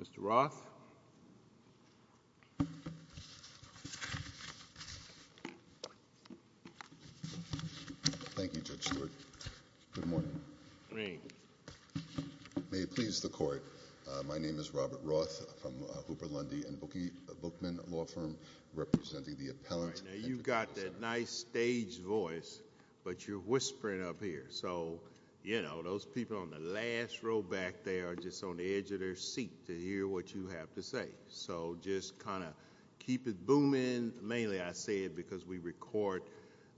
Mr. Roth. Thank you Judge Stewart. Good morning. May it please the court, my name is Robert Roth from Hooper Lundy and Bookman law firm representing the appellant. Now you've got that nice stage voice but you're whispering up here so you know those people on the last row back there are just on the seat to hear what you have to say. So just kind of keep it booming. Mainly I say it because we record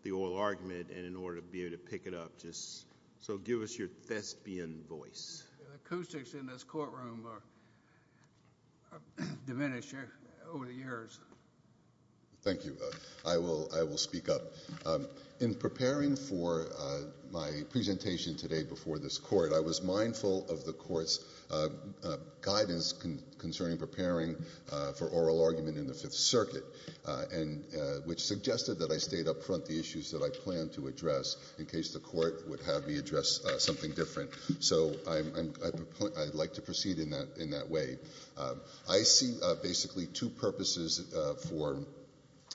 the oral argument and in order to be able to pick it up just so give us your thespian voice. The acoustics in this courtroom are diminished over the years. Thank you. I will speak up. In preparing for my presentation today before this court I was given guidance concerning preparing for oral argument in the Fifth Circuit and which suggested that I stayed up front the issues that I planned to address in case the court would have me address something different. So I'd like to proceed in that way. I see basically two purposes for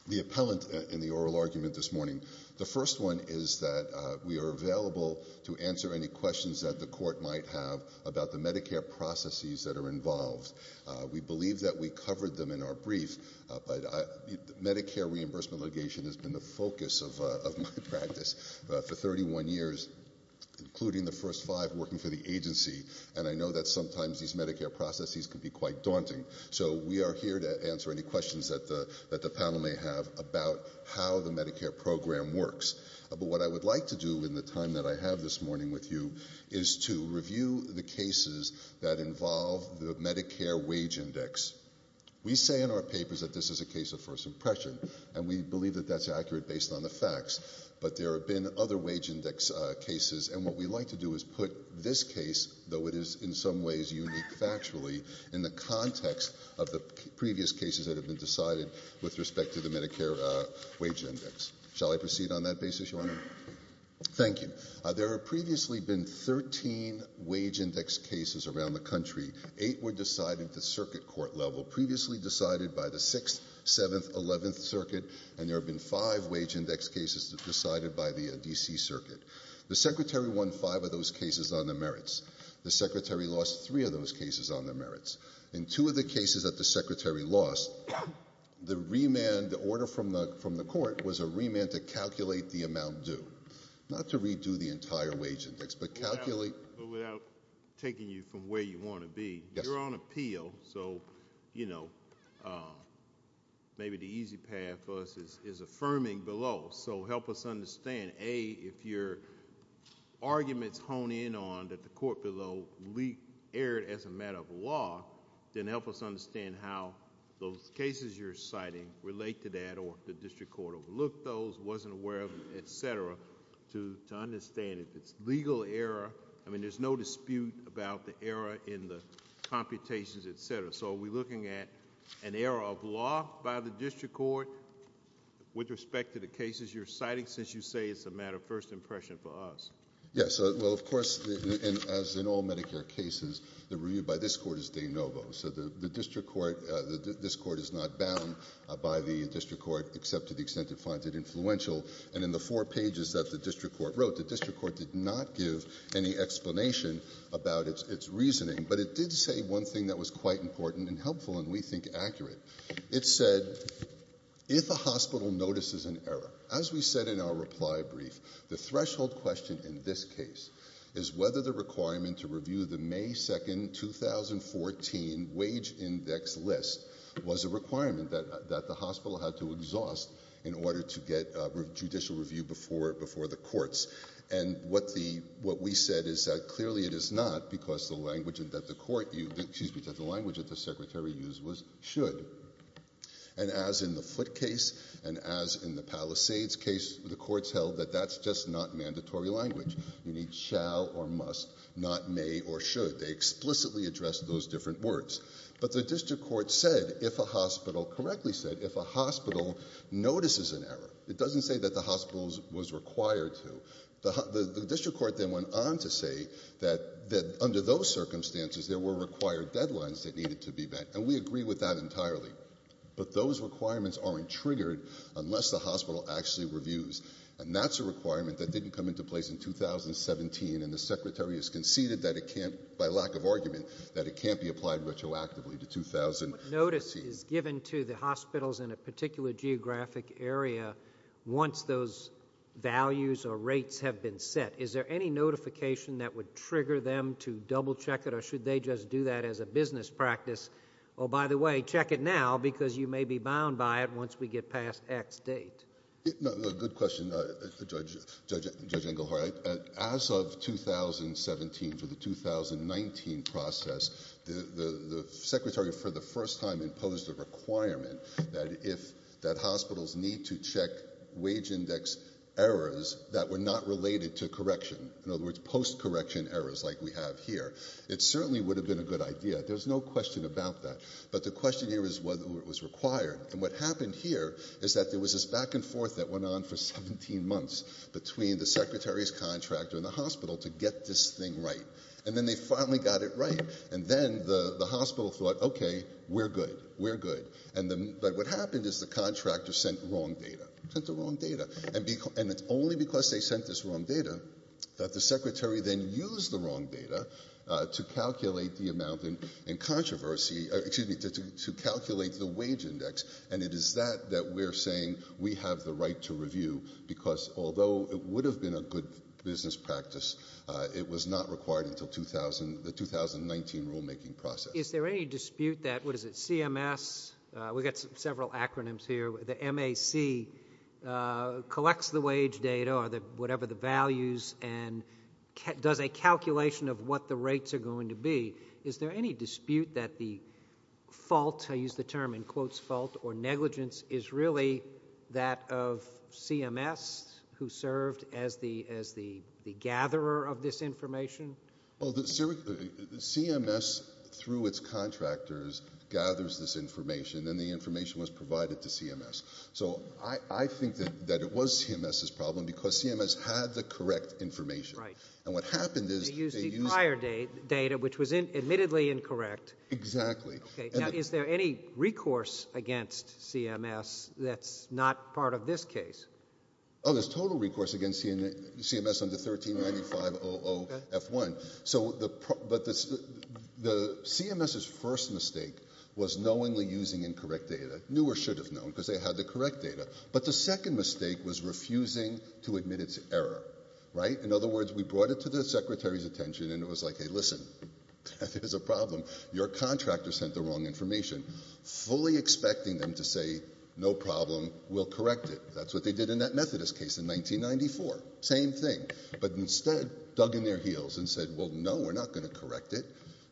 the appellant in the oral argument this morning. The first one is that we are available to answer any questions that the court might have about the Medicare processes that are involved. We believe that we covered them in our brief but Medicare reimbursement litigation has been the focus of of my practice for 31 years including the first five working for the agency and I know that sometimes these Medicare processes can be quite daunting. So we are here to answer any questions that the that the panel may have about how the Medicare program works. But what I would like to do in the time that I have this morning with you is to review the cases that involve the Medicare wage index. We say in our papers that this is a case of first impression and we believe that that's accurate based on the facts but there have been other wage index cases and what we like to do is put this case, though it is in some ways unique factually, in the context of the previous cases that have been decided with respect to the Medicare wage index. Shall I proceed on that basis, Your Honor? Thank you. There have previously been 13 wage index cases around the country. Eight were decided at the circuit court level, previously decided by the 6th, 7th, 11th circuit and there have been five wage index cases decided by the D.C. circuit. The Secretary won five of those cases on the merits. The Secretary lost three of those cases on the merits. In two of the cases that the Secretary lost, the remand order from the court was a remand to calculate the amount due, not to redo the entire wage index but calculate. Without taking you from where you want to be, you're on appeal so, you know, maybe the easy path for us is affirming below. So help us understand, A, if your arguments hone in on that the court below erred as a matter of law, then help us understand how those cases you're citing relate to that or if the district court overlooked those, wasn't aware of them, et cetera, to understand if it's legal error. I mean, there's no dispute about the error in the computations, et cetera. So are we looking at an error of law by the district court with respect to the cases you're citing since you say it's a matter of first impression for us? Yes. Well, of course, as in all Medicare cases, they're reviewed by this court as de novo. So the district court, this court is not bound by the district court except to the extent it finds it influential. And in the four pages that the district court wrote, the district court did not give any explanation about its reasoning, but it did say one thing that was quite important and helpful and we think accurate. It said, if a hospital notices an error, as we said in our reply brief, the threshold question in this case is whether the requirement to review the May 2nd, 2014 wage index list was a requirement that the hospital had to exhaust in order to get judicial review before the courts. And what we said is that clearly it is not because the language that the court used, excuse me, that the language that the secretary used was should. And as in the foot case and as in the Palisades case, the courts held that that's just not mandatory language. You need shall or must, not may or should. They explicitly addressed those different words, but the district court said, if a hospital correctly said, if a hospital notices an error, it doesn't say that the hospitals was required to. The district court then went on to say that under those circumstances, there were required deadlines that needed to be met. And we agree with that entirely, but those requirements aren't triggered unless the place in 2017 and the secretary has conceded that it can't by lack of argument, that it can't be applied retroactively to 2000. Notice is given to the hospitals in a particular geographic area. Once those values or rates have been set, is there any notification that would trigger them to double check it? Or should they just do that as a business practice? Oh, by the way, check it now because you may be bound by it once we get past X date. No, no, good question, Judge Engelhardt. As of 2017 for the 2019 process, the secretary, for the first time, imposed a requirement that if that hospitals need to check wage index errors that were not related to correction, in other words, post-correction errors like we have here, it certainly would have been a good idea. There's no question about that. But the question here is whether it was required. And what happened here is that there was this back and forth that went on for 17 months between the secretary's contractor and the hospital to get this thing right. And then they finally got it right. And then the hospital thought, okay, we're good, we're good. But what happened is the contractor sent wrong data, sent the wrong data. And it's only because they sent this wrong data that the secretary then used the wrong data to calculate the amount in controversy, excuse me, to calculate the wage index. And it is that that we're saying we have the right to review because although it would have been a good business practice, it was not required until the 2019 rulemaking process. Is there any dispute that, what is it, CMS, we've got several acronyms here, the MAC collects the wage data or whatever the values and does a fault, I use the term in quotes, fault or negligence is really that of CMS who served as the gatherer of this information? Well, CMS through its contractors gathers this information and the information was provided to CMS. So I think that it was CMS's problem because CMS had the correct information. Right. And what happened is they used prior data, which was admittedly correct. Exactly. Okay. Now, is there any recourse against CMS that's not part of this case? Oh, there's total recourse against CMS under 1395-00-F1. But the CMS's first mistake was knowingly using incorrect data, knew or should have known because they had the correct data. But the second mistake was refusing to admit its error, right? In other words, we brought it to the Secretary's attention and it was like, hey, listen, that is a problem. Your contractor sent the wrong information, fully expecting them to say, no problem, we'll correct it. That's what they did in that Methodist case in 1994. Same thing. But instead dug in their heels and said, well, no, we're not going to correct it.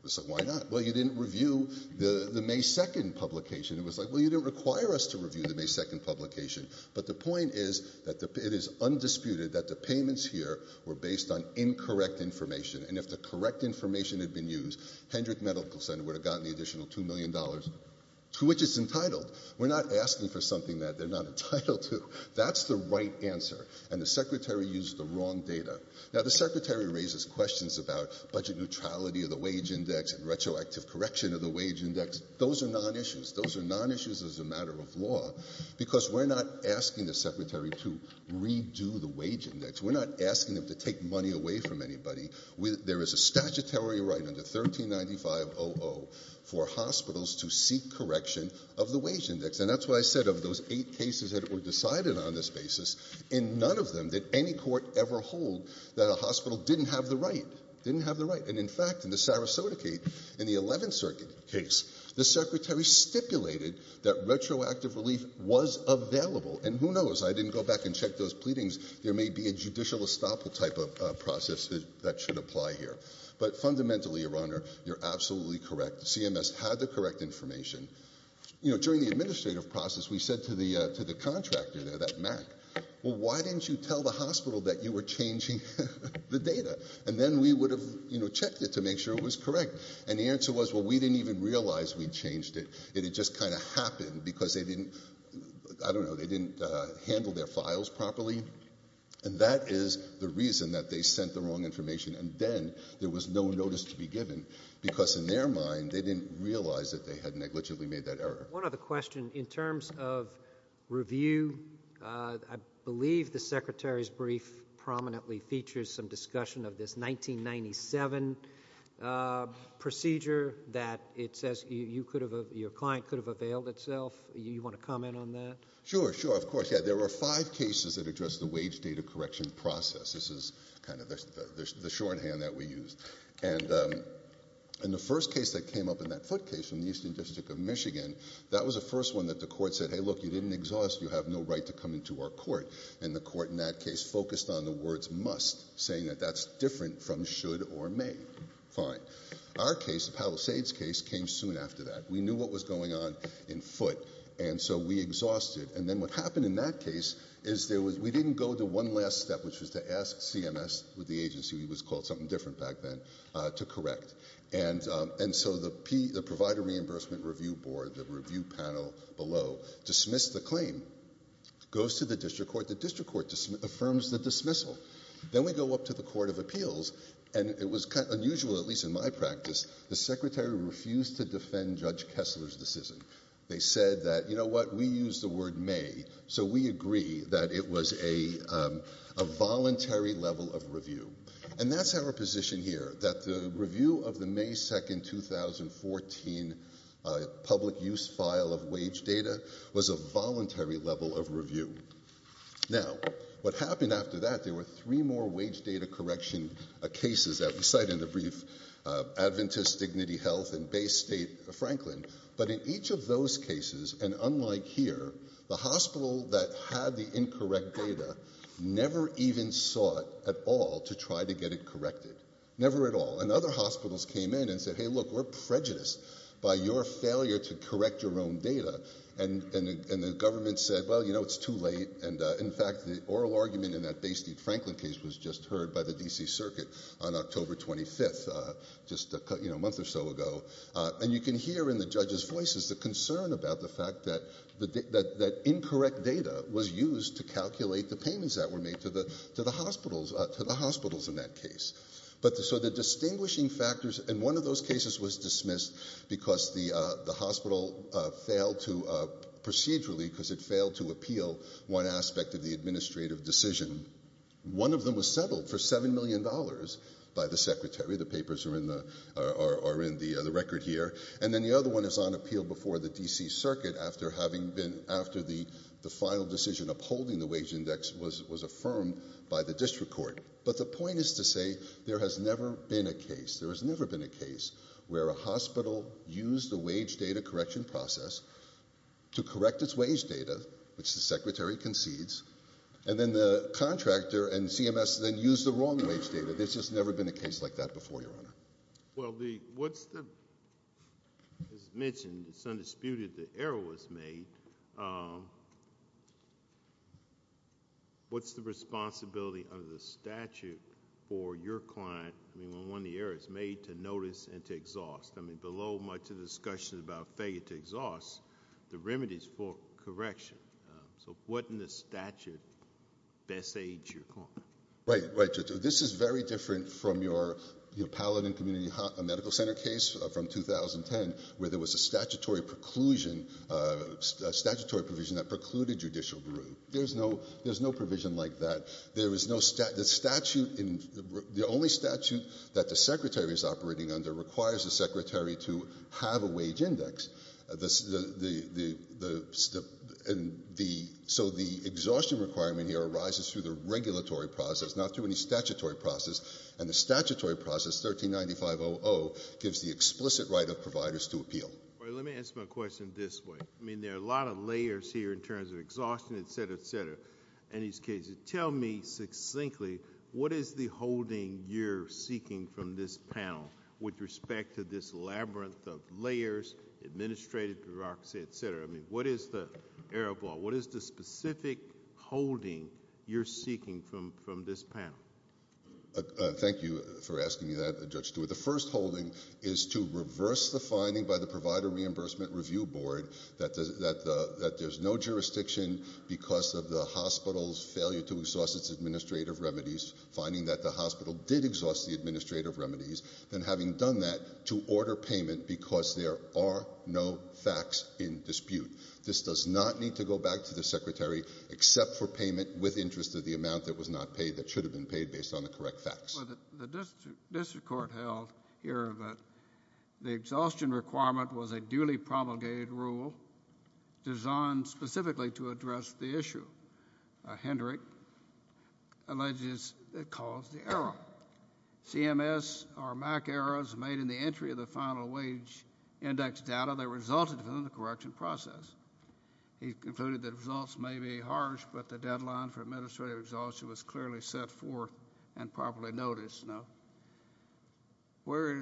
So why not? Well, you didn't review the May 2nd publication. It was like, well, you didn't require us to review the May 2nd publication. But the and if the correct information had been used, Hendrick Medical Center would have gotten the additional $2 million to which it's entitled. We're not asking for something that they're not entitled to. That's the right answer. And the Secretary used the wrong data. Now, the Secretary raises questions about budget neutrality of the wage index and retroactive correction of the wage index. Those are non-issues. Those are non-issues as a matter of law, because we're not asking the Secretary to redo the wage index. We're not asking them to take money away from anybody. There is a statutory right under 1395-00 for hospitals to seek correction of the wage index. And that's why I said of those eight cases that were decided on this basis, in none of them did any court ever hold that a hospital didn't have the right, didn't have the right. And in fact, in the Sarasota case, in the 11th Circuit case, the Secretary stipulated that retroactive relief was available. And who knows? I didn't go back and check those pleadings. There may be a judicial estoppel type of process that should apply here. But fundamentally, Your Honor, you're absolutely correct. CMS had the correct information. During the administrative process, we said to the contractor there, that MAC, well, why didn't you tell the hospital that you were changing the data? And then we would have checked it to make sure it was correct. And the answer was, well, we didn't even realize we'd And that is the reason that they sent the wrong information. And then there was no notice to be given, because in their mind, they didn't realize that they had negligibly made that error. One other question. In terms of review, I believe the Secretary's brief prominently features some discussion of this 1997 procedure that it says your client could have availed itself. You want to comment on that? Sure, sure, of course. Yeah, there were five cases that addressed the wage data correction process. This is kind of the shorthand that we used. And the first case that came up in that foot case from the Eastern District of Michigan, that was the first one that the court said, hey, look, you didn't exhaust. You have no right to come into our court. And the court in that case focused on the words must, saying that that's different from should or may. Fine. Our case, the Palisades case, came soon after that. We knew what was going on in foot. And so we exhausted. And then what happened in that case is we didn't go to one last step, which was to ask CMS with the agency, it was called something different back then, to correct. And so the Provider Reimbursement Review Board, the review panel below, dismissed the claim. Goes to the district court. The district court affirms the dismissal. Then we go up to the Court of Appeals. And it was unusual, at least in my practice. The secretary refused to defend Judge Kessler's decision. They said that, you know what, we used the word may. So we agree that it was a voluntary level of review. And that's our position here, that the review of the May 2, 2014 public use file of wage data was a voluntary level of review. Now, what happened after that, there were three more wage data correction cases that we had. Adventist Dignity Health and Bay State Franklin. But in each of those cases, and unlike here, the hospital that had the incorrect data never even sought at all to try to get it corrected. Never at all. And other hospitals came in and said, hey, look, we're prejudiced by your failure to correct your own data. And the government said, well, you know, it's too late. And in fact, the oral argument in that Bay State Franklin case was just heard by the D.C. Circuit on October 25th, a month or so ago. And you can hear in the judges' voices the concern about the fact that incorrect data was used to calculate the payments that were made to the hospitals in that case. So the distinguishing factors in one of those cases was dismissed because the hospital failed to procedurally, because it failed to appeal one aspect of the administrative decision. One of them was settled for $7 million by the secretary. The papers are in the record here. And then the other one is on appeal before the D.C. Circuit after the final decision upholding the wage index was affirmed by the district court. But the point is to say there has never been a case, there has never been a case where a hospital used the wage data correction process to correct its wage data, which the secretary concedes, and then the contractor and CMS then used the wrong wage data. There's just never been a case like that before, Your Honor. Well, what's the, as mentioned, it's undisputed the error was made. What's the responsibility of the statute for your client, I mean, when one of the errors, made to notice and to exhaust? I mean, below much of the discussion about failure to exhaust, the remedies for correction. So what in the statute best aid your client? Right, right, Judge. This is very different from your Paladin Community Medical Center case from 2010, where there was a statutory preclusion, a statutory provision that precluded judicial brew. There's no, there's no provision like that. There is no statute, the statute in, the only statute that the secretary is operating under requires the secretary to have a wage index. The, the, the, the, the, and the, so the exhaustion requirement here arises through the regulatory process, not through any statutory process. And the statutory process, 1395-00, gives the explicit right of providers to appeal. Let me ask my question this way. I mean, there are a lot of layers here in terms of exhaustion, et cetera, et cetera, in these cases. Tell me succinctly, what is the holding you're seeking from this panel with respect to this labyrinth of layers, administrative bureaucracy, et cetera? I mean, what is the, Errol Ball, what is the specific holding you're seeking from, from this panel? Thank you for asking me that, Judge Stewart. The first holding is to reverse the finding by the Provider Reimbursement Review Board that the, that the, that there's no jurisdiction because of the hospital's failure to exhaust its administrative remedies, finding that the hospital did exhaust the administrative remedies, then having done that to order payment because there are no facts in dispute. This does not need to go back to the secretary except for payment with interest of the amount that was not paid that should have been paid based on the correct facts. Well, the, the district, district court held here that the exhaustion requirement was a duly promulgated rule designed specifically to address the issue. Hendrick alleges it caused the error. CMS or MAC errors made in the entry of the final wage index data that resulted from the correction process. He concluded that results may be harsh, but the deadline for administrative exhaustion was clearly set forth and properly noticed. Now, where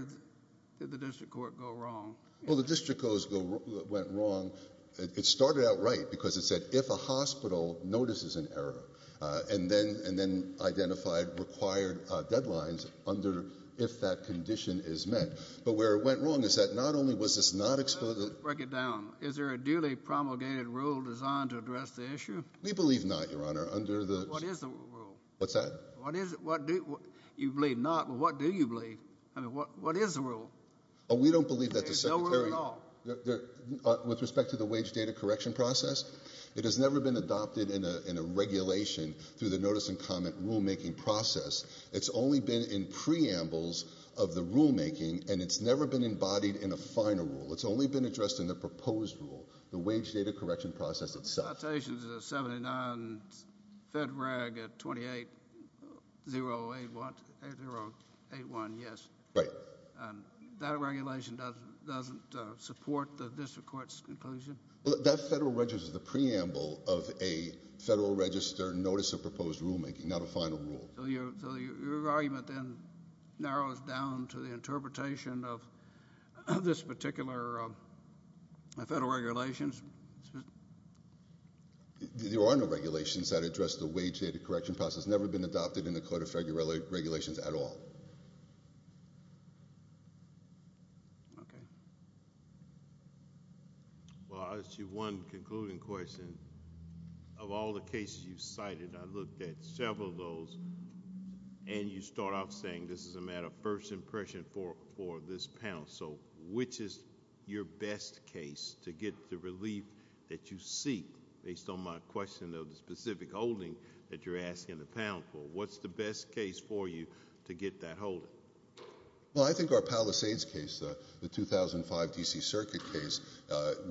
did the district court go wrong? Well, the district goes, went wrong. It started out right because it said if a hospital notices an error, uh, and then, and then identified required deadlines under if that condition is met. But where it went wrong is that not only was this not explicit. Break it down. Is there a duly promulgated rule designed to address the issue? We believe not your honor under the, what is the rule? What's that? What is it? What do you believe not? Well, what do you believe? I mean, what, what is the rule? Oh, we don't believe that. With respect to the wage data correction process, it has never been adopted in a, in a regulation through the notice and comment rulemaking process. It's only been in preambles of the rulemaking and it's never been embodied in a final rule. It's only been addressed in the proposed rule, the wage data correction process itself. 79 fed rag at 28 0 8 1 0 8 1. Yes. Right. And that regulation doesn't, doesn't support the district court's conclusion. Well, that federal register is the preamble of a federal register notice of proposed rulemaking, not a final rule. So your argument then narrows down to the there are no regulations that address the wage data correction process, never been adopted in the code of federal regulations at all. Okay. Well, I'll ask you one concluding question of all the cases you cited. I looked at several of those and you start off saying, this is a matter of first impression for, for this panel. So which is your best case to get the relief that you seek based on my question of the specific holding that you're asking the panel for? What's the best case for you to get that hold? Well, I think our Palisades case, the 2005 DC circuit case,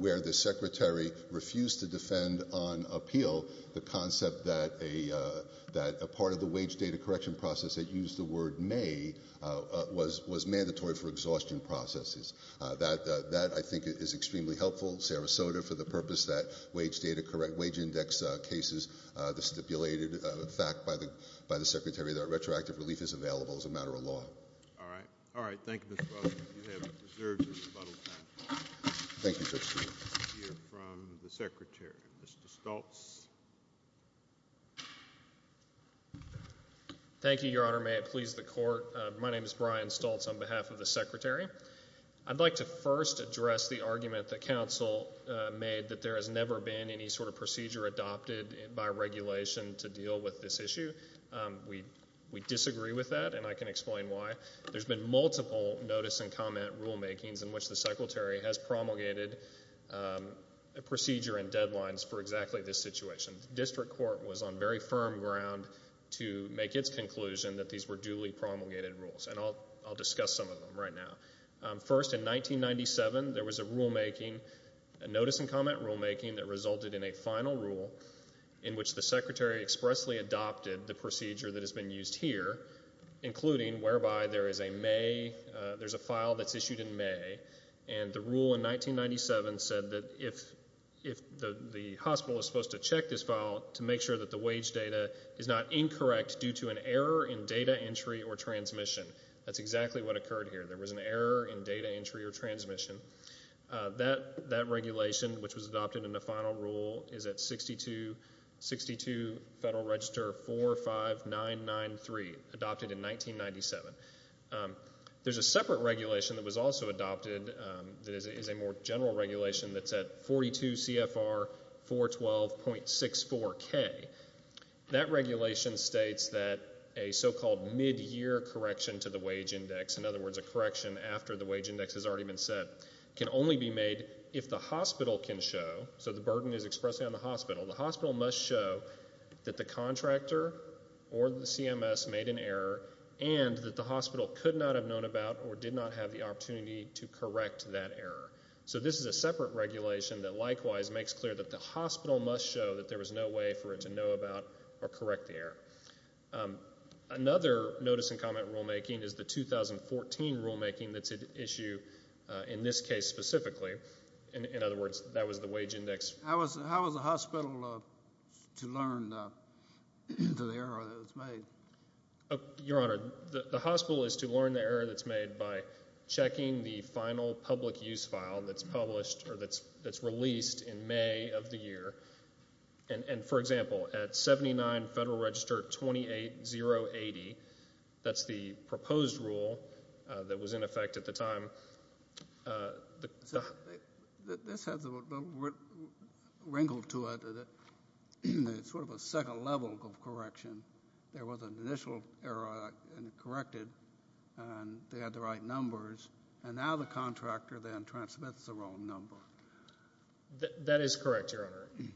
where the secretary refused to defend on appeal, the concept that a, that a part of the wage data correction process that used the May, uh, was, was mandatory for exhaustion processes. Uh, that, uh, that I think is extremely helpful. Sarasota for the purpose that wage data, correct wage index cases, uh, the stipulated fact by the, by the secretary that retroactive relief is available as a matter of law. All right. All right. Thank you. Thank you. From the secretary, Mr. Stoltz. Thank you, your honor. May it please the court. My name is Brian Stoltz on behalf of the secretary. I'd like to first address the argument that council, uh, made that there has never been any sort of procedure adopted by regulation to deal with this issue. Um, we, we disagree with that and I can explain why there's been multiple notice and comment rulemakings in which the district court was on very firm ground to make its conclusion that these were duly promulgated rules. And I'll, I'll discuss some of them right now. Um, first in 1997, there was a rulemaking, a notice and comment rulemaking that resulted in a final rule in which the secretary expressly adopted the procedure that has been used here, including whereby there is a May, uh, there's a file that's issued in May. And the rule in 1997 said that if, if the, the hospital is supposed to check this file to make sure that the wage data is not incorrect due to an error in data entry or transmission, that's exactly what occurred here. There was an error in data entry or transmission. Uh, that, that regulation, which was adopted in the final rule is at 62, 62 Federal Register 45993 adopted in 1997. Um, there's a separate regulation that was also adopted in 1997, 0.64 K. That regulation states that a so-called midyear correction to the wage index, in other words, a correction after the wage index has already been set can only be made if the hospital can show. So the burden is expressing on the hospital. The hospital must show that the contractor or the CMS made an error and that the hospital could not have known about or did not have the opportunity to correct that error. So this is a separate regulation that likewise makes clear that the hospital must show that there was no way for it to know about or correct the error. Um, another notice and comment rulemaking is the 2014 rulemaking that's at issue, uh, in this case specifically. In, in other words, that was the wage index. How was, how was the hospital, uh, to learn, uh, to the error that was made? Oh, Your Honor, the, the hospital is to learn the error that's made by checking the final public use file that's published or that's, that's released in May of the year. And, and, for example, at 79 Federal Register 28-080, that's the proposed rule, uh, that was in effect at the time. Uh, the, the, this has wrinkled to it. It's sort of a second level of correction. There was an initial error and it corrected and they had the right numbers and now the contractor then transmits the wrong number. That, that is correct, Your Honor.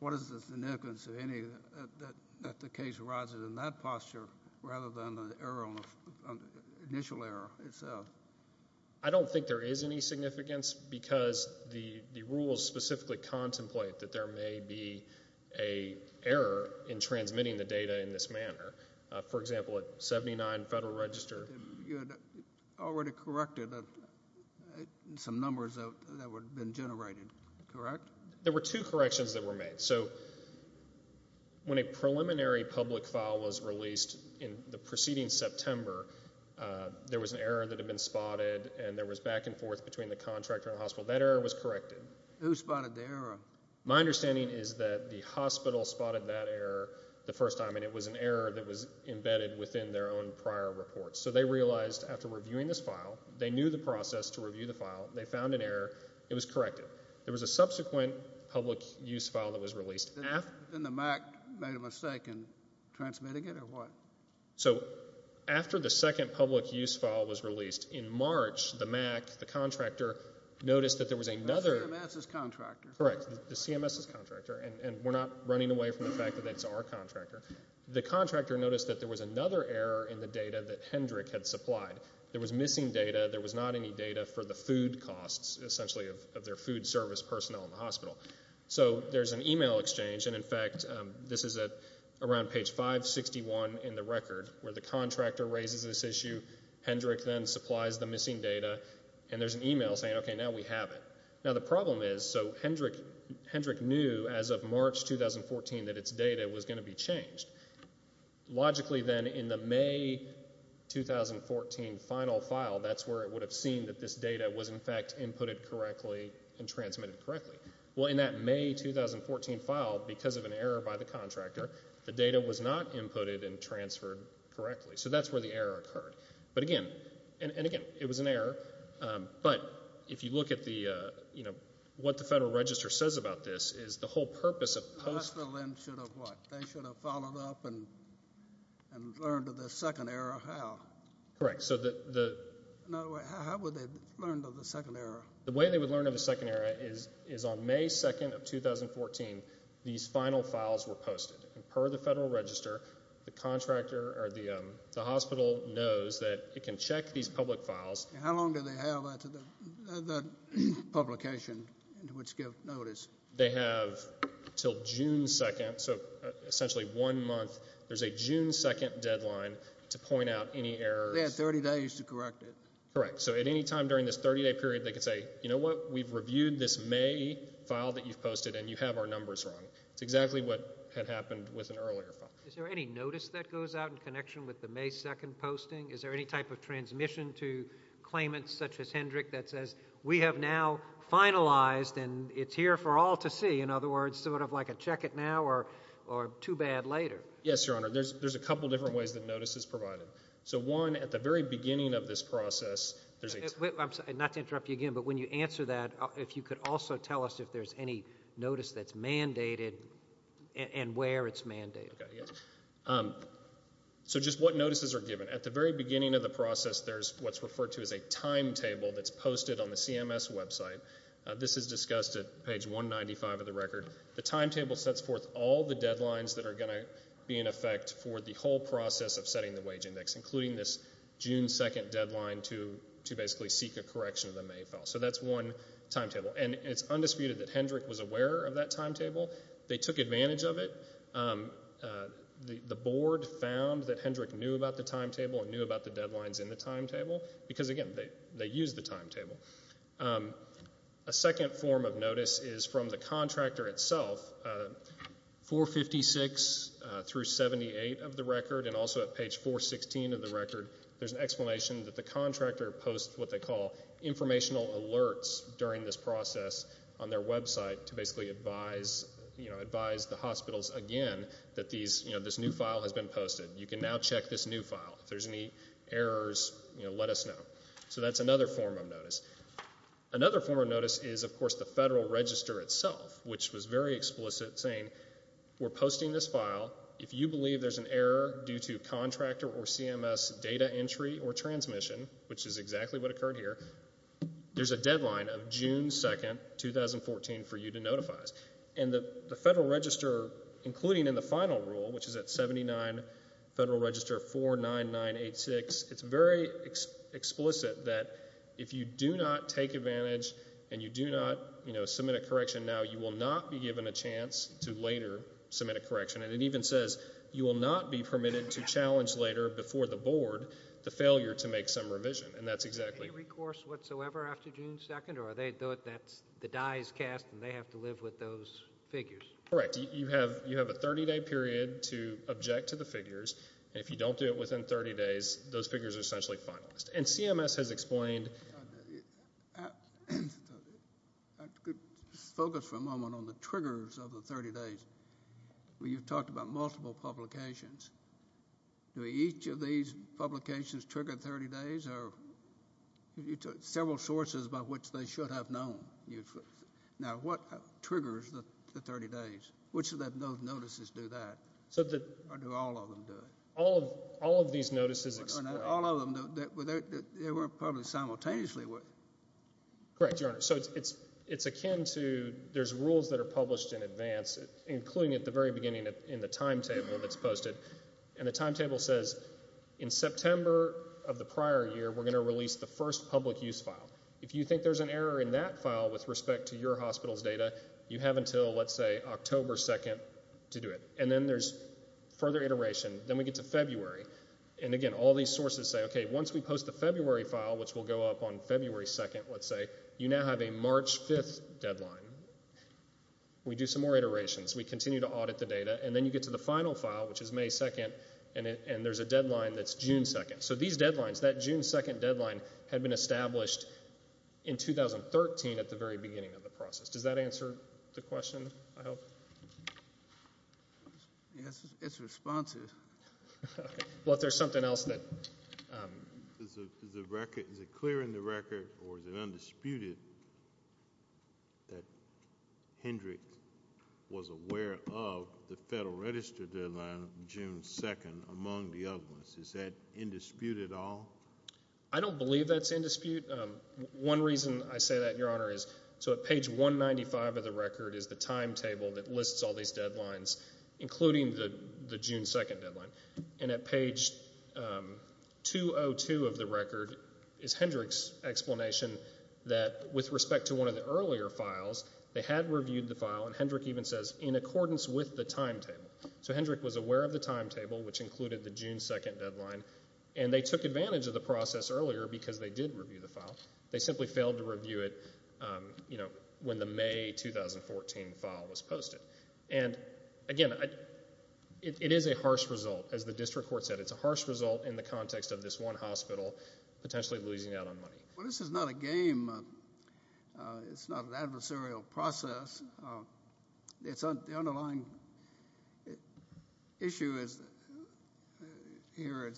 What is the significance of any, uh, that, that the case arises in that posture rather than the error on the, on the initial error itself? I don't think there is any significance because the, the rules specifically contemplate that there may be a error in transmitting the data in this manner. Uh, for example, at 79 Federal Register. You had already corrected some numbers that would have been generated, correct? There were two corrections that were made. So, when a preliminary public file was released in the preceding September, uh, there was an error that had been spotted and there was back and forth between the contractor and the hospital. That error was corrected. Who spotted the error? My understanding is that the hospital spotted that error the first time and it was an error that was embedded within their own prior reports. So, they realized after reviewing this file, they knew the process to review the file, they found an error, it was corrected. There was a subsequent public use file that was released. Then the MAC made a mistake in transmitting it or what? So, after the second public use file was released in March, the MAC, the contractor, noticed that there was another. The CMS is contractor. Correct. The CMS is contractor and, and we're not running away from the fact that it's our contractor. The contractor noticed that there was another error in the data that Hendrick had supplied. There was missing data. There was not any data for the food costs, essentially, of their food service personnel in the hospital. So, there's an email exchange and, in fact, this is at around page 561 in the record where the contractor raises this issue. Hendrick then supplies the missing data and there's an email saying, okay, now we have it. Now, the problem is, so Hendrick, Hendrick knew as of March 2014 that its data was going to be changed. Logically, then, in the May 2014 final file, that's where it would have seen that this data was, in fact, inputted correctly and transmitted correctly. Well, in that May 2014 file, because of an error by the contractor, the data was not inputted and transferred correctly. So, that's where the error occurred. But again, and again, it was an error, but if you look at the, you know, what the Federal Register says about this is the whole purpose of post... The hospital then should have what? They should have followed up and learned of the second error how? Correct. So, the... No, how would they learn of the second error? The way they would learn of the second error is on May 2nd of 2014, these final files were posted. Per the Federal Register, the contractor or the hospital knows that it can check these public files... How long do they have that publication until it's given notice? They have until June 2nd, so essentially one month. There's a June 2nd deadline to point out any errors. They have 30 days to correct it. Correct. So, at any time during this 30-day period, they can say, you know what? We've reviewed this May file that you've posted and you have our numbers wrong. It's exactly what had happened with an earlier file. Is there any notice that goes out in connection with the May 2nd posting? Is there any type of transmission to finalize and it's here for all to see? In other words, sort of like a check it now or too bad later? Yes, Your Honor. There's a couple different ways that notice is provided. So, one, at the very beginning of this process... I'm sorry, not to interrupt you again, but when you answer that, if you could also tell us if there's any notice that's mandated and where it's mandated. So, just what notices are given. At the very beginning of the process, what's referred to as a timetable that's posted on the CMS website. This is discussed at page 195 of the record. The timetable sets forth all the deadlines that are going to be in effect for the whole process of setting the wage index, including this June 2nd deadline to basically seek a correction of the May file. So, that's one timetable. And it's undisputed that Hendrick was aware of that timetable. They took advantage of it. The board found that Hendrick knew about the deadlines in the timetable because, again, they used the timetable. A second form of notice is from the contractor itself. 456 through 78 of the record and also at page 416 of the record, there's an explanation that the contractor posts what they call informational alerts during this process on their website to basically advise the hospitals again that this new file has been posted. If there's any errors, let us know. So, that's another form of notice. Another form of notice is, of course, the Federal Register itself, which was very explicit, saying we're posting this file. If you believe there's an error due to contractor or CMS data entry or transmission, which is exactly what occurred here, there's a deadline of June 2nd, 2014 for you to notify us. And the Federal Register, including in the final rule, which is at 79 Federal Register 49986, it's very explicit that if you do not take advantage and you do not, you know, submit a correction now, you will not be given a chance to later submit a correction. And it even says you will not be permitted to challenge later before the board the failure to make some revision, and that's exactly... Any recourse whatsoever after June 2nd, or are they...the die is cast and they have to live with those figures? Correct. You have a 30-day period to object to the figures, and if you don't do it within 30 days, those figures are essentially finalized. And CMS has explained... I could focus for a moment on the triggers of the 30 days. You've talked about multiple publications. Do each of these publications trigger 30 days, or are there several sources by which they should have known? Now, what triggers the 30 days? Which of those notices do that, or do all of them do it? All of these notices... All of them, they were published simultaneously. Correct, Your Honor. So it's akin to...there's rules that are published in advance, including at the very beginning in the timetable that's posted, and the timetable says, in September of the prior year, we're going to release the first public use file. If you think there's an error in that file with respect to your hospital's data, you have until, let's say, October 2nd to do it. And then there's further iteration. Then we get to February, and again, all these sources say, okay, once we post the February file, which will go up on February 2nd, let's say, you now have a March 5th deadline. We do some more iterations. We continue to audit the data, and then you get to the final file, which is May 2nd, and there's a deadline that's June 2nd. So these deadlines, that June 2nd had been established in 2013 at the very beginning of the process. Does that answer the question, I hope? Yes, it's responsive. Well, if there's something else that... Is it clear in the record, or is it undisputed, that Hendricks was aware of the Federal Register deadline of June 2nd among the others? Is that in dispute at all? I don't believe that's in dispute. One reason I say that, Your Honor, is so at page 195 of the record is the timetable that lists all these deadlines, including the June 2nd deadline. And at page 202 of the record is Hendricks' explanation that with respect to one of the earlier files, they had reviewed the timetable, which included the June 2nd deadline, and they took advantage of the process earlier because they did review the file. They simply failed to review it, you know, when the May 2014 file was posted. And again, it is a harsh result. As the district court said, it's a harsh result in the context of this one hospital potentially losing out on money. Well, this is not a game. It's not an adversarial process. The underlying issue here is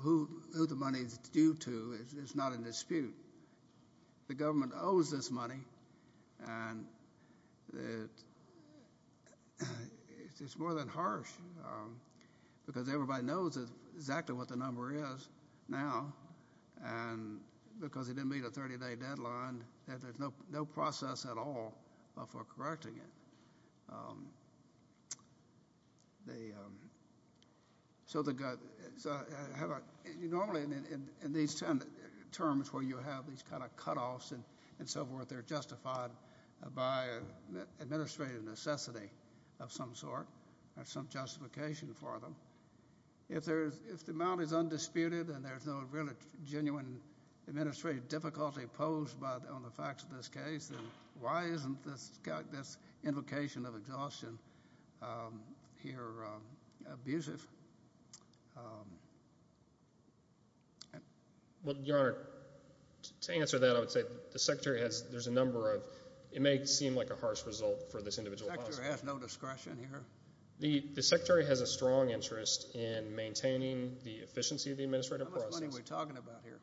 who the money is due to. It's not in dispute. The government owes this money, and it's more than harsh because everybody knows exactly what the number is now. And because it didn't meet a 30-day deadline, that there's no process at all for correcting it. So normally in these terms where you have these kind of cutoffs and so forth, they're justified by administrative necessity of some sort or some justification for them. If the amount is undisputed and there's no really genuine administrative difficulty posed on the facts of this case, then why isn't this invocation of exhaustion here abusive? Well, Your Honor, to answer that, I would say the Secretary has, there's a number of, it may seem like a harsh result for this individual hospital. The Secretary has no discretion here? The Secretary has a strong interest in maintaining the efficiency of the administrative process. How much money are we talking about here?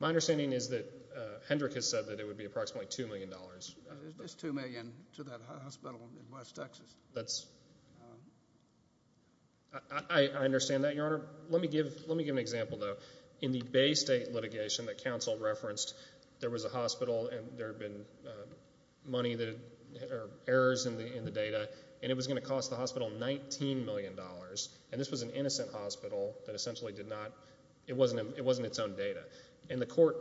My understanding is that Hendrick has said that it would be approximately $2 million. It's just $2 million to that hospital in West Texas. That's, I understand that, Your Honor. Let me give an example though. In the Bay State litigation that counsel referenced, there was a hospital and there had been money that had, or errors in the data, and it was going to cost the hospital $19 million. And this was an innocent hospital that essentially did not, it wasn't its own data. And the court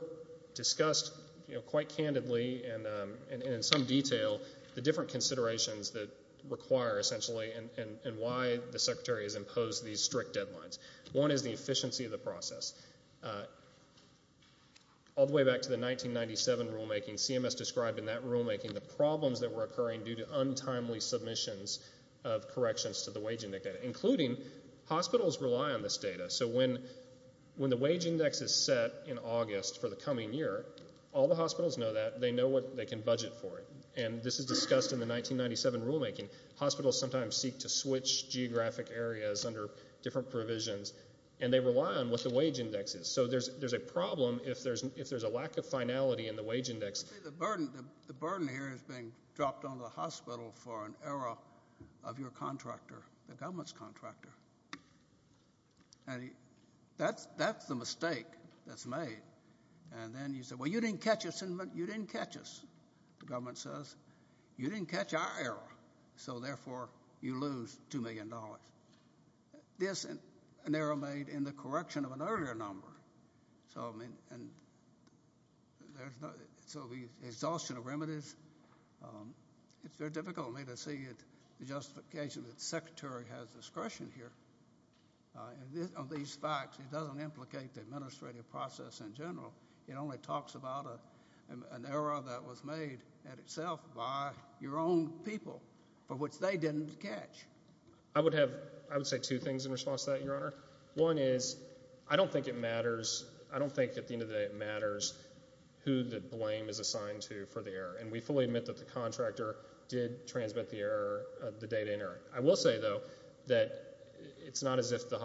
discussed, you know, quite candidly and in some detail, the different considerations that require essentially and why the Secretary has imposed these strict deadlines. One is the efficiency of the process. All the way back to the 1997 rulemaking, CMS described in that rulemaking the problems that were occurring due to untimely submissions of corrections to the wage index, including hospitals rely on this data. So when the wage index is set in August for the coming year, all the hospitals know that. They know what they can budget for it. And this is discussed in the 1997 rulemaking. Hospitals sometimes seek to switch geographic areas under different provisions, and they rely on what the wage index is. So there's a problem if there's a lack of finality in the wage index. The burden here is being dropped on the hospital for an error of your contractor, the government's contractor. And that's the mistake that's made. And then you say, well, you didn't catch us. You didn't catch us, the government says. You didn't catch our error. So therefore, you lose $2 million. This is an error made in the correction of an earlier number. So the exhaustion of remedies, it's very difficult for me to see the justification that the Secretary has discretion here on these facts. It doesn't implicate the administrative process in general. It only talks about an error that was made in itself by your own people, for which they didn't catch. I would have, I would say two things in response to that, Your Honor. One is, I don't think it matters, I don't think at the end of the day it matters who the blame is assigned to for the error. And we fully admit that the contractor did transmit the error, the data error. I will say, though, that it's not as if the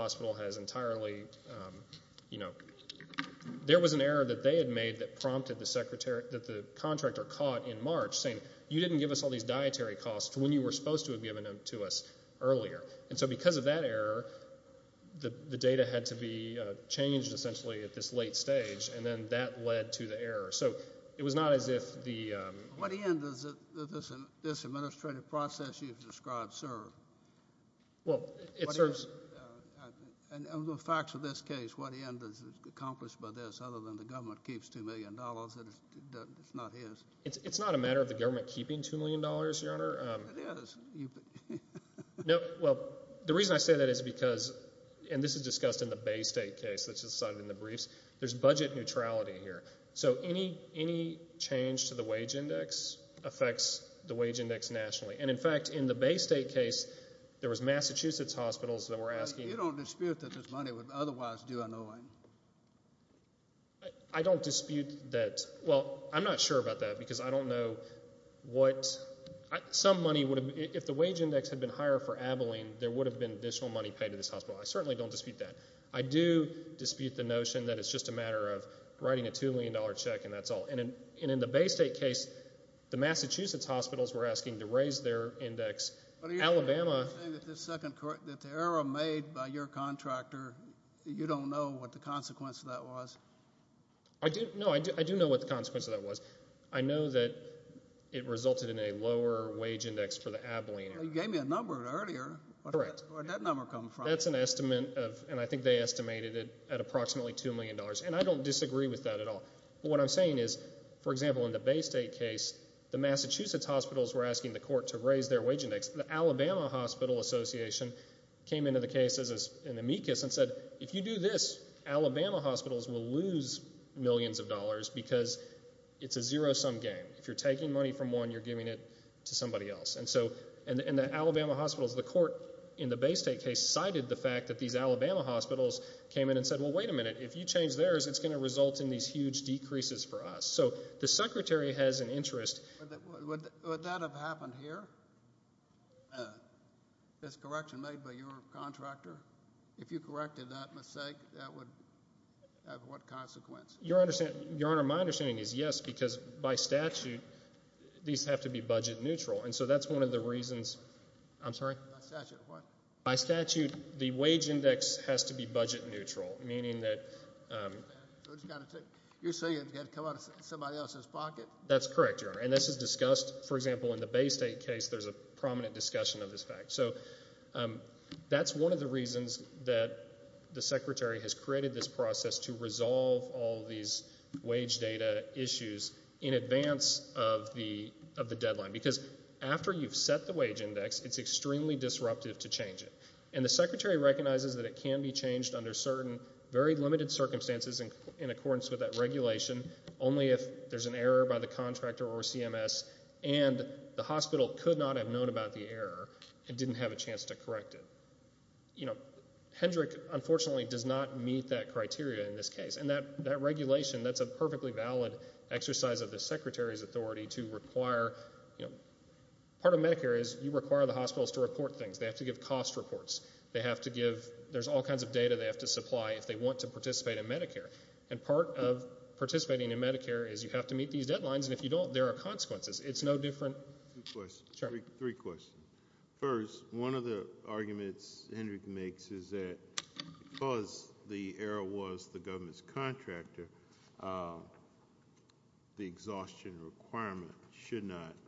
you know, there was an error that they had made that prompted the Secretary, that the contractor caught in March saying, you didn't give us all these dietary costs when you were supposed to have given them to us earlier. And so because of that error, the data had to be changed essentially at this late stage, and then that led to the error. So it was not as if the What end does this administrative process you've described serve? Well, it serves. And the facts of this case, what end is accomplished by this other than the government keeps $2 million, it's not his. It's not a matter of the government keeping $2 million, Your Honor. It is. No, well, the reason I say that is because, and this is discussed in the Bay State case that's cited in the briefs, there's budget neutrality here. So any change to wage index affects the wage index nationally. And in fact, in the Bay State case, there was Massachusetts hospitals that were asking. You don't dispute that this money would otherwise do an owing. I don't dispute that. Well, I'm not sure about that because I don't know what some money would have, if the wage index had been higher for Abilene, there would have been additional money paid to this hospital. I certainly don't dispute that. I do dispute the notion that it's just a matter of writing a $2 million check and that's all. And in the Bay State case, the Massachusetts hospitals were asking to raise their index. Alabama... Are you saying that the error made by your contractor, you don't know what the consequence of that was? No, I do know what the consequence of that was. I know that it resulted in a lower wage index for the Abilene. You gave me a number earlier. Where did that number come from? That's an estimate of, and I think they estimated it at approximately $2 million. And I don't disagree with that at all. What I'm saying is, for example, in the Bay State case, the Massachusetts hospitals were asking the court to raise their wage index. The Alabama Hospital Association came into the case as an amicus and said, if you do this, Alabama hospitals will lose millions of dollars because it's a zero-sum game. If you're taking money from one, you're giving it to somebody else. And so, in the Alabama hospitals, the court in the Bay State case cited the fact that these Alabama hospitals came in and said, well, wait a minute. If you change theirs, it's going to result in these huge decreases for us. So, the secretary has an interest... Would that have happened here? This correction made by your contractor? If you corrected that mistake, that would have what consequence? Your Honor, my understanding is yes, because by statute, these have to be budget neutral. And so, that's one of the reasons... I'm sorry? By statute, what? By statute, the wage index has to be budget neutral, meaning that... You're saying it's going to come out of somebody else's pocket? That's correct, Your Honor. And this is discussed, for example, in the Bay State case, there's a prominent discussion of this fact. So, that's one of the reasons that the secretary has created this process to resolve all these wage data issues in advance of the deadline. Because after you've set the wage index, it's extremely disruptive to change it. And the secretary recognizes that it can be changed under certain very limited circumstances in accordance with that regulation, only if there's an error by the contractor or CMS and the hospital could not have known about the error and didn't have a chance to correct it. You know, Hendrick, unfortunately, does not meet that criteria in this case. And that regulation, that's a perfectly valid exercise of the secretary's to report things. They have to give cost reports. They have to give... There's all kinds of data they have to supply if they want to participate in Medicare. And part of participating in Medicare is you have to meet these deadlines, and if you don't, there are consequences. It's no different... Three questions. First, one of the arguments Hendrick makes is that because the error was the government's contractor, the exhaustion requirement should not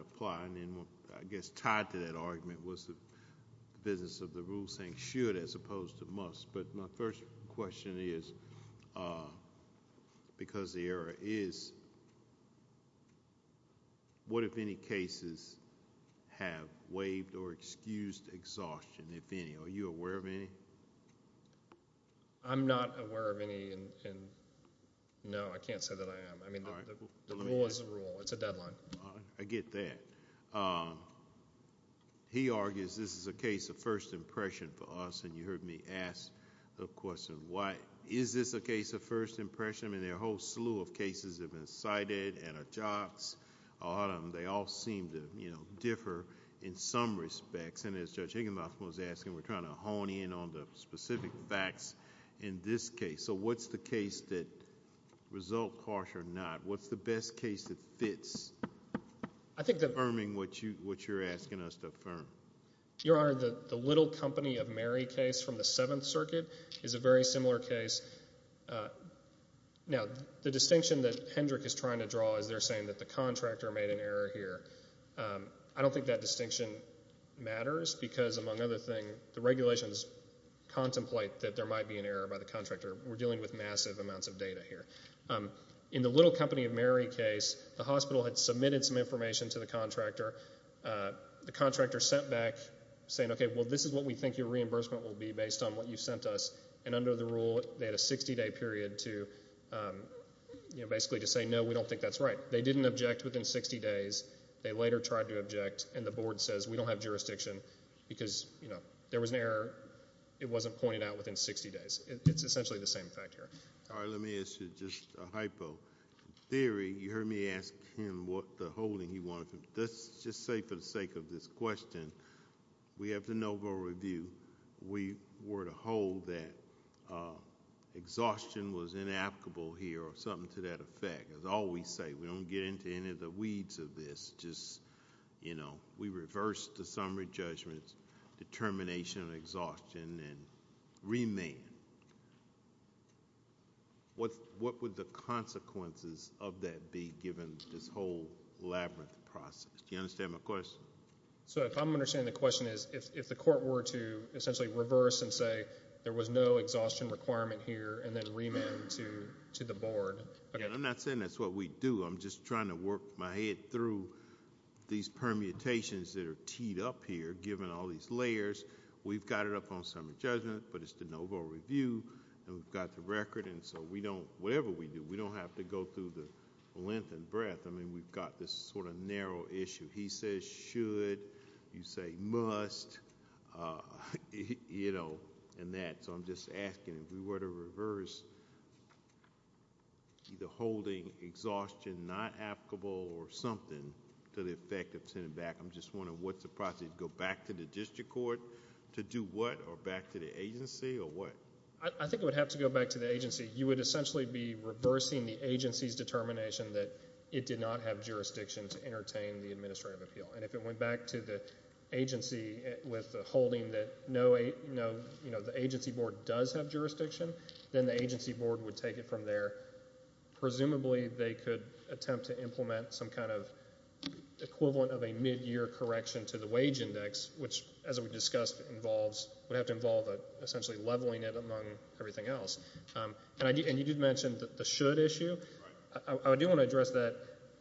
apply. And then I guess tied to that argument was the business of the rule saying should as opposed to must. But my first question is, because the error is, what if any cases have waived or excused exhaustion, if any? Are you aware of any? I'm not aware of any, and no, I can't say that I am. The rule is the rule. It's a deadline. I get that. He argues this is a case of first impression for us, and you heard me ask the question, why is this a case of first impression? I mean, there are a whole slew of cases that have been cited, and a lot of them, they all seem to differ in some respects. And as Judge Higginbotham was asking, we're trying to hone in on the specific facts in this case. So what's the case that results harsh or not? What's the best case that fits, affirming what you're asking us to affirm? Your Honor, the Little Company of Mary case from the Seventh Circuit is a very similar case. Now, the distinction that Hendrick is trying to draw is they're saying that the contractor made an error here. I don't think that distinction matters because, among other things, the regulations contemplate that there might be an error by the contractor. We're dealing with massive amounts of data here. In the Little Company of Mary case, the hospital had submitted some information to the contractor. The contractor sent back, saying, okay, well, this is what we think your reimbursement will be based on what you sent us. And under the rule, they had a 60-day period to, you know, basically to say, no, we don't think that's right. They didn't object within 60 days. They later tried to object, and the board says, we don't have jurisdiction because, you know, there was an error. It wasn't pointed out within 60 days. It's essentially the same fact here. All right, let me ask you just a hypo. In theory, you heard me ask him what the holding he wanted. Let's just say, for the sake of this question, we have the no vote review. We were to hold that exhaustion was inapplicable here or something to that effect. As I always say, we don't get into any of the weeds of this. Just, you know, we reversed the summary judgments, determination of exhaustion, and remand. What would the consequences of that be given this whole labyrinth process? Do you understand my question? So, if I'm understanding the question is, if the court were to essentially reverse and there was no exhaustion requirement here and then remand to the board. I'm not saying that's what we do. I'm just trying to work my head through these permutations that are teed up here, given all these layers. We've got it up on summary judgment, but it's the no vote review, and we've got the record, and so we don't, whatever we do, we don't have to go through the length and breadth. I mean, we've got this sort of narrow issue. He says, should. You say, must, you know, and that. So, I'm just asking if we were to reverse either holding exhaustion not applicable or something to the effect of sending back. I'm just wondering what's the process? Go back to the district court to do what or back to the agency or what? I think it would have to go back to the agency. You would essentially be reversing the agency's determination that it did not have jurisdiction to entertain the administrative appeal, and if it went back to the agency with the holding that the agency board does have jurisdiction, then the agency board would take it from there. Presumably, they could attempt to implement some kind of equivalent of a midyear correction to the wage index, which, as we discussed, would have to involve essentially leveling it among everything else, and you did address that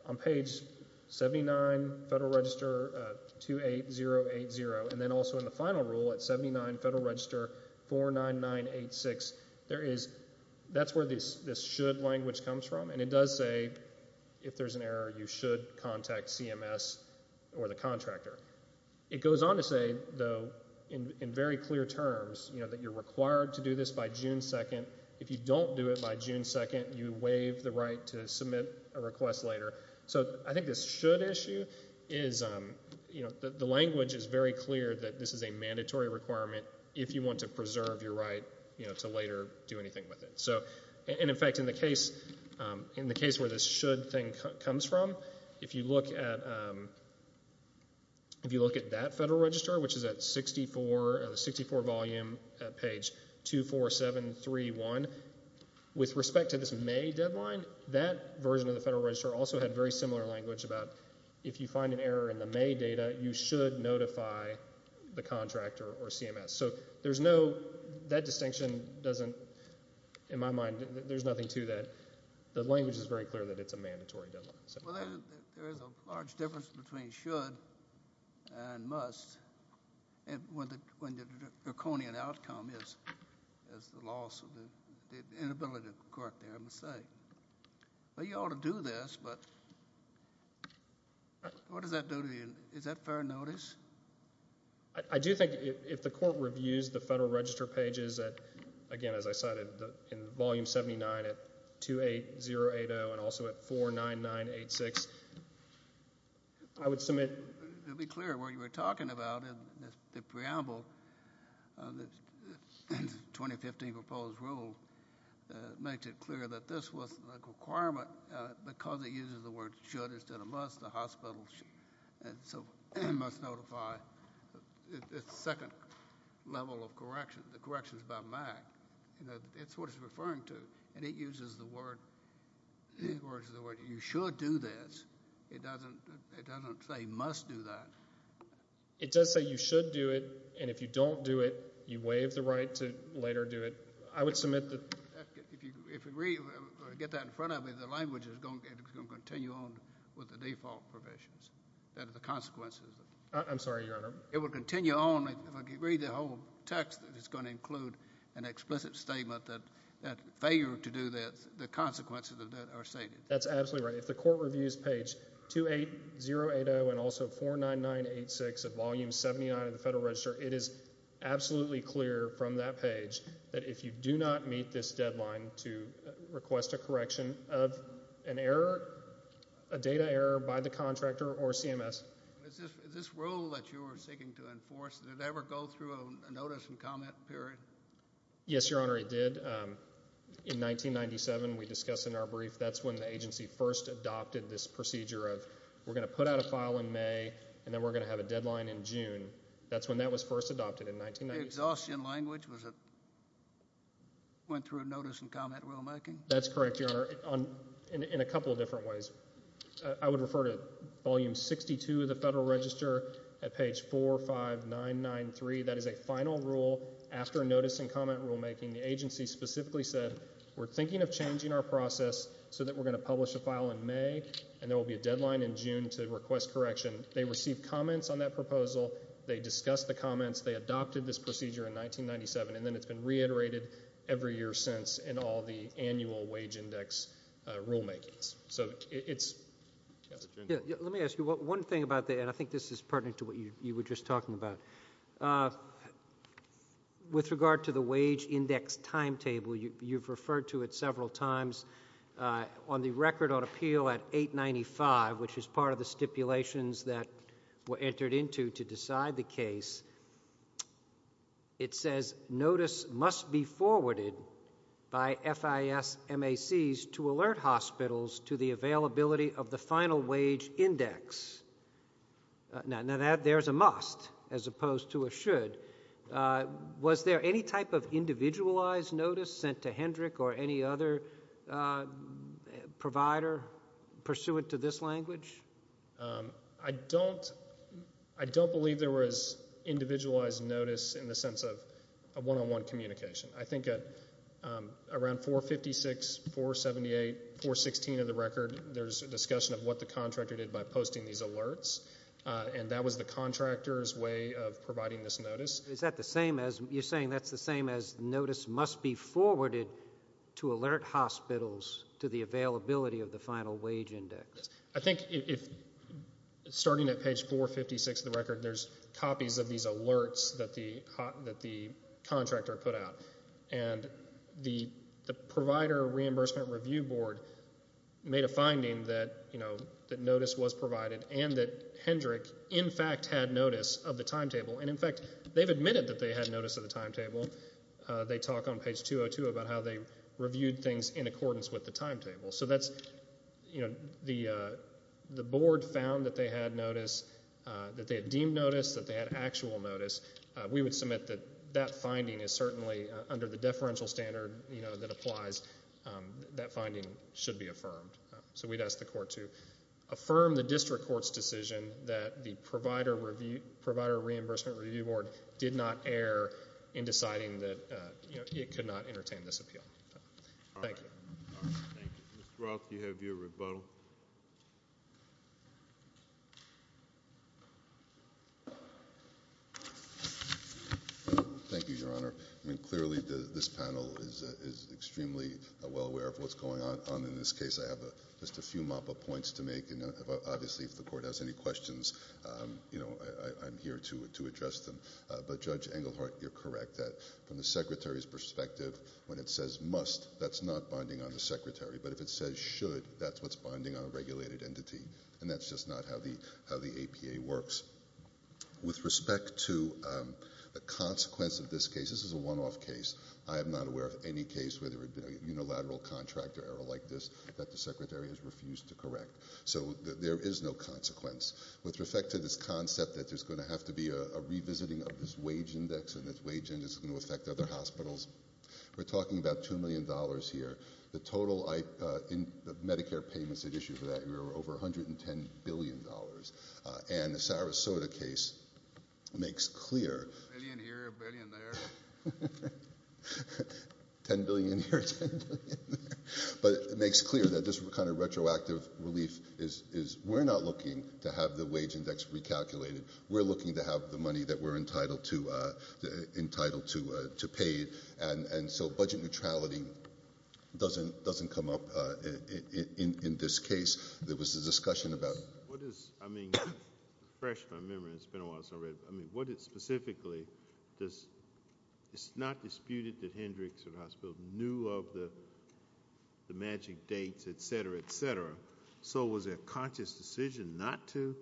on page 79 Federal Register 28080, and then also in the final rule at 79 Federal Register 49986. That's where this should language comes from, and it does say, if there's an error, you should contact CMS or the contractor. It goes on to say, though, in very clear terms, you know, that you're required to do this by June 2nd. If you don't do it by June 2nd, you waive the right to submit a request later, so I think this should issue is, you know, the language is very clear that this is a mandatory requirement if you want to preserve your right, you know, to later do anything with it, so, and in fact, in the case where this should thing comes from, if you look at that Federal Register, which is at 64, 64 volume, page 24731, with respect to this May deadline, that version of the Federal Register also had very similar language about if you find an error in the May data, you should notify the contractor or CMS, so there's no, that distinction doesn't, in my mind, there's nothing to that. The language is very clear that it's a mandatory deadline. Well, there is a large difference between should and must when the draconian outcome is the loss of the inability of the court there, I must say. Well, you ought to do this, but what does that do to you? Is that fair notice? I do think if the court reviews the Federal Register pages at, again, as I said, in volume 79 at 28080 and also at 49986, I would submit. To be clear, what you were talking about in the preamble of the 2015 proposed rule makes it clear that this was a requirement because it uses the word should instead of must, the hospital should, and so must notify. It's the second level of MAC. It's what it's referring to, and it uses the word, you should do this. It doesn't say must do that. It does say you should do it, and if you don't do it, you waive the right to later do it. I would submit that. If you get that in front of me, the language is going to continue on with the default provisions. That is the consequences. I'm sorry, Your Honor. It will include an explicit statement that failure to do this, the consequences of that are stated. That's absolutely right. If the court reviews page 28080 and also 49986 of volume 79 of the Federal Register, it is absolutely clear from that page that if you do not meet this deadline to request a correction of an error, a data error by the contractor or CMS. Is this rule that you are seeking to enforce, did it ever go through a notice and comment period? Yes, Your Honor, it did. In 1997, we discussed in our brief, that's when the agency first adopted this procedure of we're going to put out a file in May, and then we're going to have a deadline in June. That's when that was first adopted in 1997. The exhaustion language, was it went through a notice and comment rulemaking? That's correct, Your Honor, in a couple of ways. I would refer to volume 62 of the Federal Register at page 45993. That is a final rule after a notice and comment rulemaking. The agency specifically said, we're thinking of changing our process so that we're going to publish a file in May, and there will be a deadline in June to request correction. They received comments on that proposal. They discussed the comments. They adopted this procedure in 1997, and then it's been reiterated every year in all the annual wage index rulemakings. Let me ask you one thing about that, and I think this is pertinent to what you were just talking about. With regard to the wage index timetable, you've referred to it several times. On the record on appeal at 895, which is part of the stipulations that were entered into to decide the case, it says, notice must be forwarded by FIS MACs to alert hospitals to the availability of the final wage index. Now, there's a must as opposed to a should. Was there any type of individualized notice sent to Hendrick or any other provider pursuant to this language? I don't believe there was individualized notice in the sense of a one-on-one communication. I think around 456, 478, 416 of the record, there's a discussion of what the contractor did by posting these alerts, and that was the contractor's way of providing this notice. Is that the same as you're saying that's the same as notice must be forwarded to alert hospitals to the availability of the final wage index? I think starting at page 456 of the record, there's copies of these alerts that the contractor put out, and the provider reimbursement review board made a finding that notice was provided and that Hendrick, in fact, had notice of the timetable, and in fact, they've admitted that they had notice of the timetable. They talk on page 202 about how they reviewed things in accordance with the timetable. So that's, you know, the board found that they had notice, that they had deemed notice, that they had actual notice. We would submit that that finding is certainly under the deferential standard, you know, that applies. That finding should be affirmed. So we'd ask the court to affirm the district court's decision that the provider reimbursement review board did not err in deciding that it could not entertain this appeal. Thank you. Mr. Roth, do you have your rebuttal? Thank you, Your Honor. I mean, clearly, this panel is extremely well aware of what's going on in this case. I have just a few mop-up points to make, and obviously, if the court has any from the secretary's perspective, when it says must, that's not binding on the secretary, but if it says should, that's what's binding on a regulated entity, and that's just not how the how the APA works. With respect to the consequence of this case, this is a one-off case. I am not aware of any case where there had been a unilateral contract or error like this that the secretary has refused to correct. So there is no consequence. With respect to this concept that there's going to have to be a revisiting of this wage index, and this wage index is going to affect other hospitals, we're talking about two million dollars here. The total Medicare payments that issue for that year were over 110 billion dollars, and the Sarasota case makes clear... 10 billion here, 10 billion there. But it makes clear that this kind of retroactive relief is we're not looking to have the wage index recalculated. We're looking to have the money that we're entitled to pay, and so budget neutrality doesn't come up in this case. There was a discussion about what is, I mean, fresh in my memory, it's been a while since I read, I mean, what is specifically, it's not disputed that Hendricks Hospital knew of the magic dates, etc., etc. So was it a conscious decision not to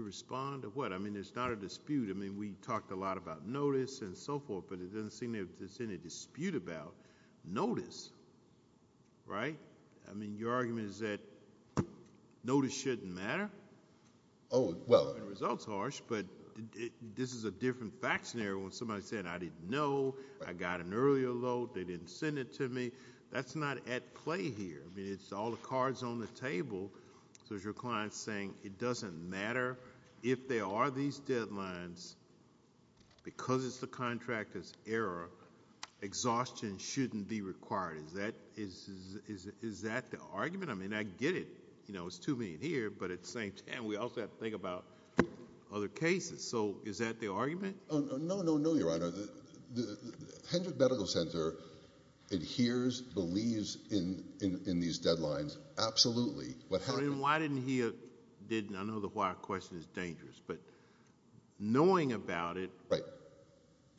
respond or what? I mean, there's not a dispute. I mean, we talked a lot about notice and so forth, but it doesn't seem there's any dispute about notice, right? I mean, your argument is that notice shouldn't matter? Oh, well, the result's harsh, but this is a different fact scenario when somebody said, I didn't know, I got an earlier load, they didn't send it to me. That's not at play here. I mean, it's all the cards on the table. So there's your client saying it doesn't matter if there are these deadlines, because it's the contractor's error, exhaustion shouldn't be required. Is that the argument? I mean, I get it, you know, it's 2 million here, but at the same time, we also have to think about other cases. So is that the argument? Oh, no, no, no, your honor. The Hendricks Medical Center adheres, believes in these deadlines. Absolutely. Well, then why didn't he, I know the why question is dangerous, but knowing about it,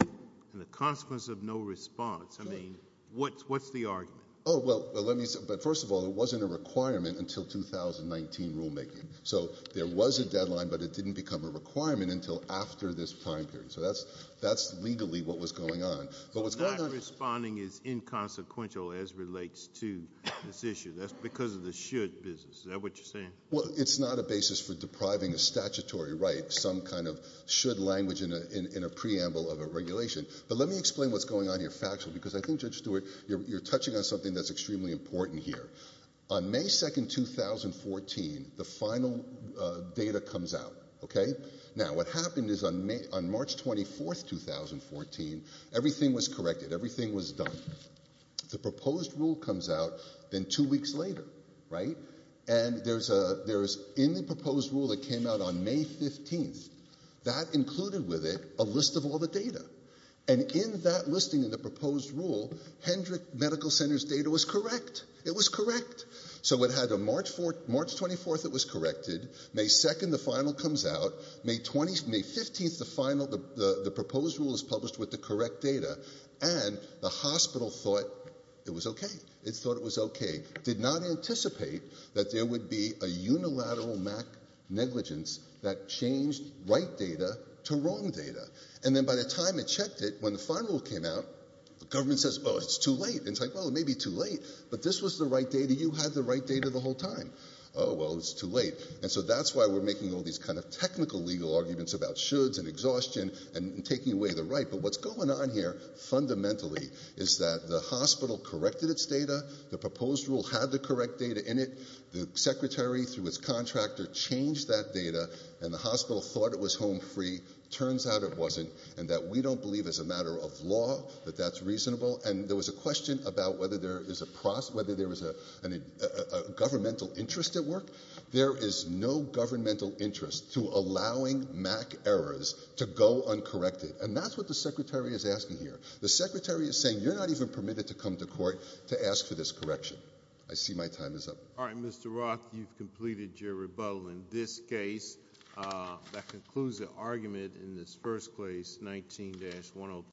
and the consequence of no response, I mean, what's the argument? Oh, well, let me say, but first of all, it wasn't a requirement until 2019 rulemaking. So there was a deadline, but it didn't become a requirement until after this time period. So that's legally what was going on. So not responding is inconsequential as relates to this issue. That's because of the should business. Is that what you're saying? Well, it's not a basis for depriving a statutory right, some kind of should language in a preamble of a regulation. But let me explain what's going on here factually, because I think Judge Stewart, you're touching on something that's extremely important here. On May 2nd, 2014, the final data comes out. Okay. Now what happened is on March 24th, 2014, everything was corrected. Everything was done. The proposed rule comes out then two weeks later, right? And there's a, there's in the proposed rule that came out on May 15th, that included with it a list of all the data. And in that listing in the proposed rule, Hendricks Medical Center's data was correct. It was correct. So it had a March 4th, March 24th, it was corrected. May 2nd, the final comes out. May 20th, May 15th, the final, the proposed rule is published with the correct data. And the hospital thought it was okay. It thought it was okay. Did not anticipate that there would be a unilateral MAC negligence that changed right data to wrong data. And then by the time it checked it, when the final came out, the government says, oh, it's too late. And it's like, well, it may be too late, but this was the right data. You had the right data the whole time. Oh, well, it was too late. And so that's why we're making all these kind of technical legal arguments about shoulds and exhaustion and taking away the right. But what's going on here fundamentally is that the hospital corrected its data. The proposed rule had the correct data in it. The secretary through his contractor changed that data and the hospital thought it was home free. Turns out it wasn't. And that we don't believe as a matter of law that that's reasonable. And there was a question about whether there is a process, whether there was a governmental interest at work. There is no governmental interest to allowing MAC errors to go uncorrected. And that's what the secretary is asking here. The secretary is saying you're not even permitted to come to court to ask for this correction. I see my time is up. All right, Mr. Roth, you've completed your rebuttal in this case. That concludes the argument in this first place, 19 dash one.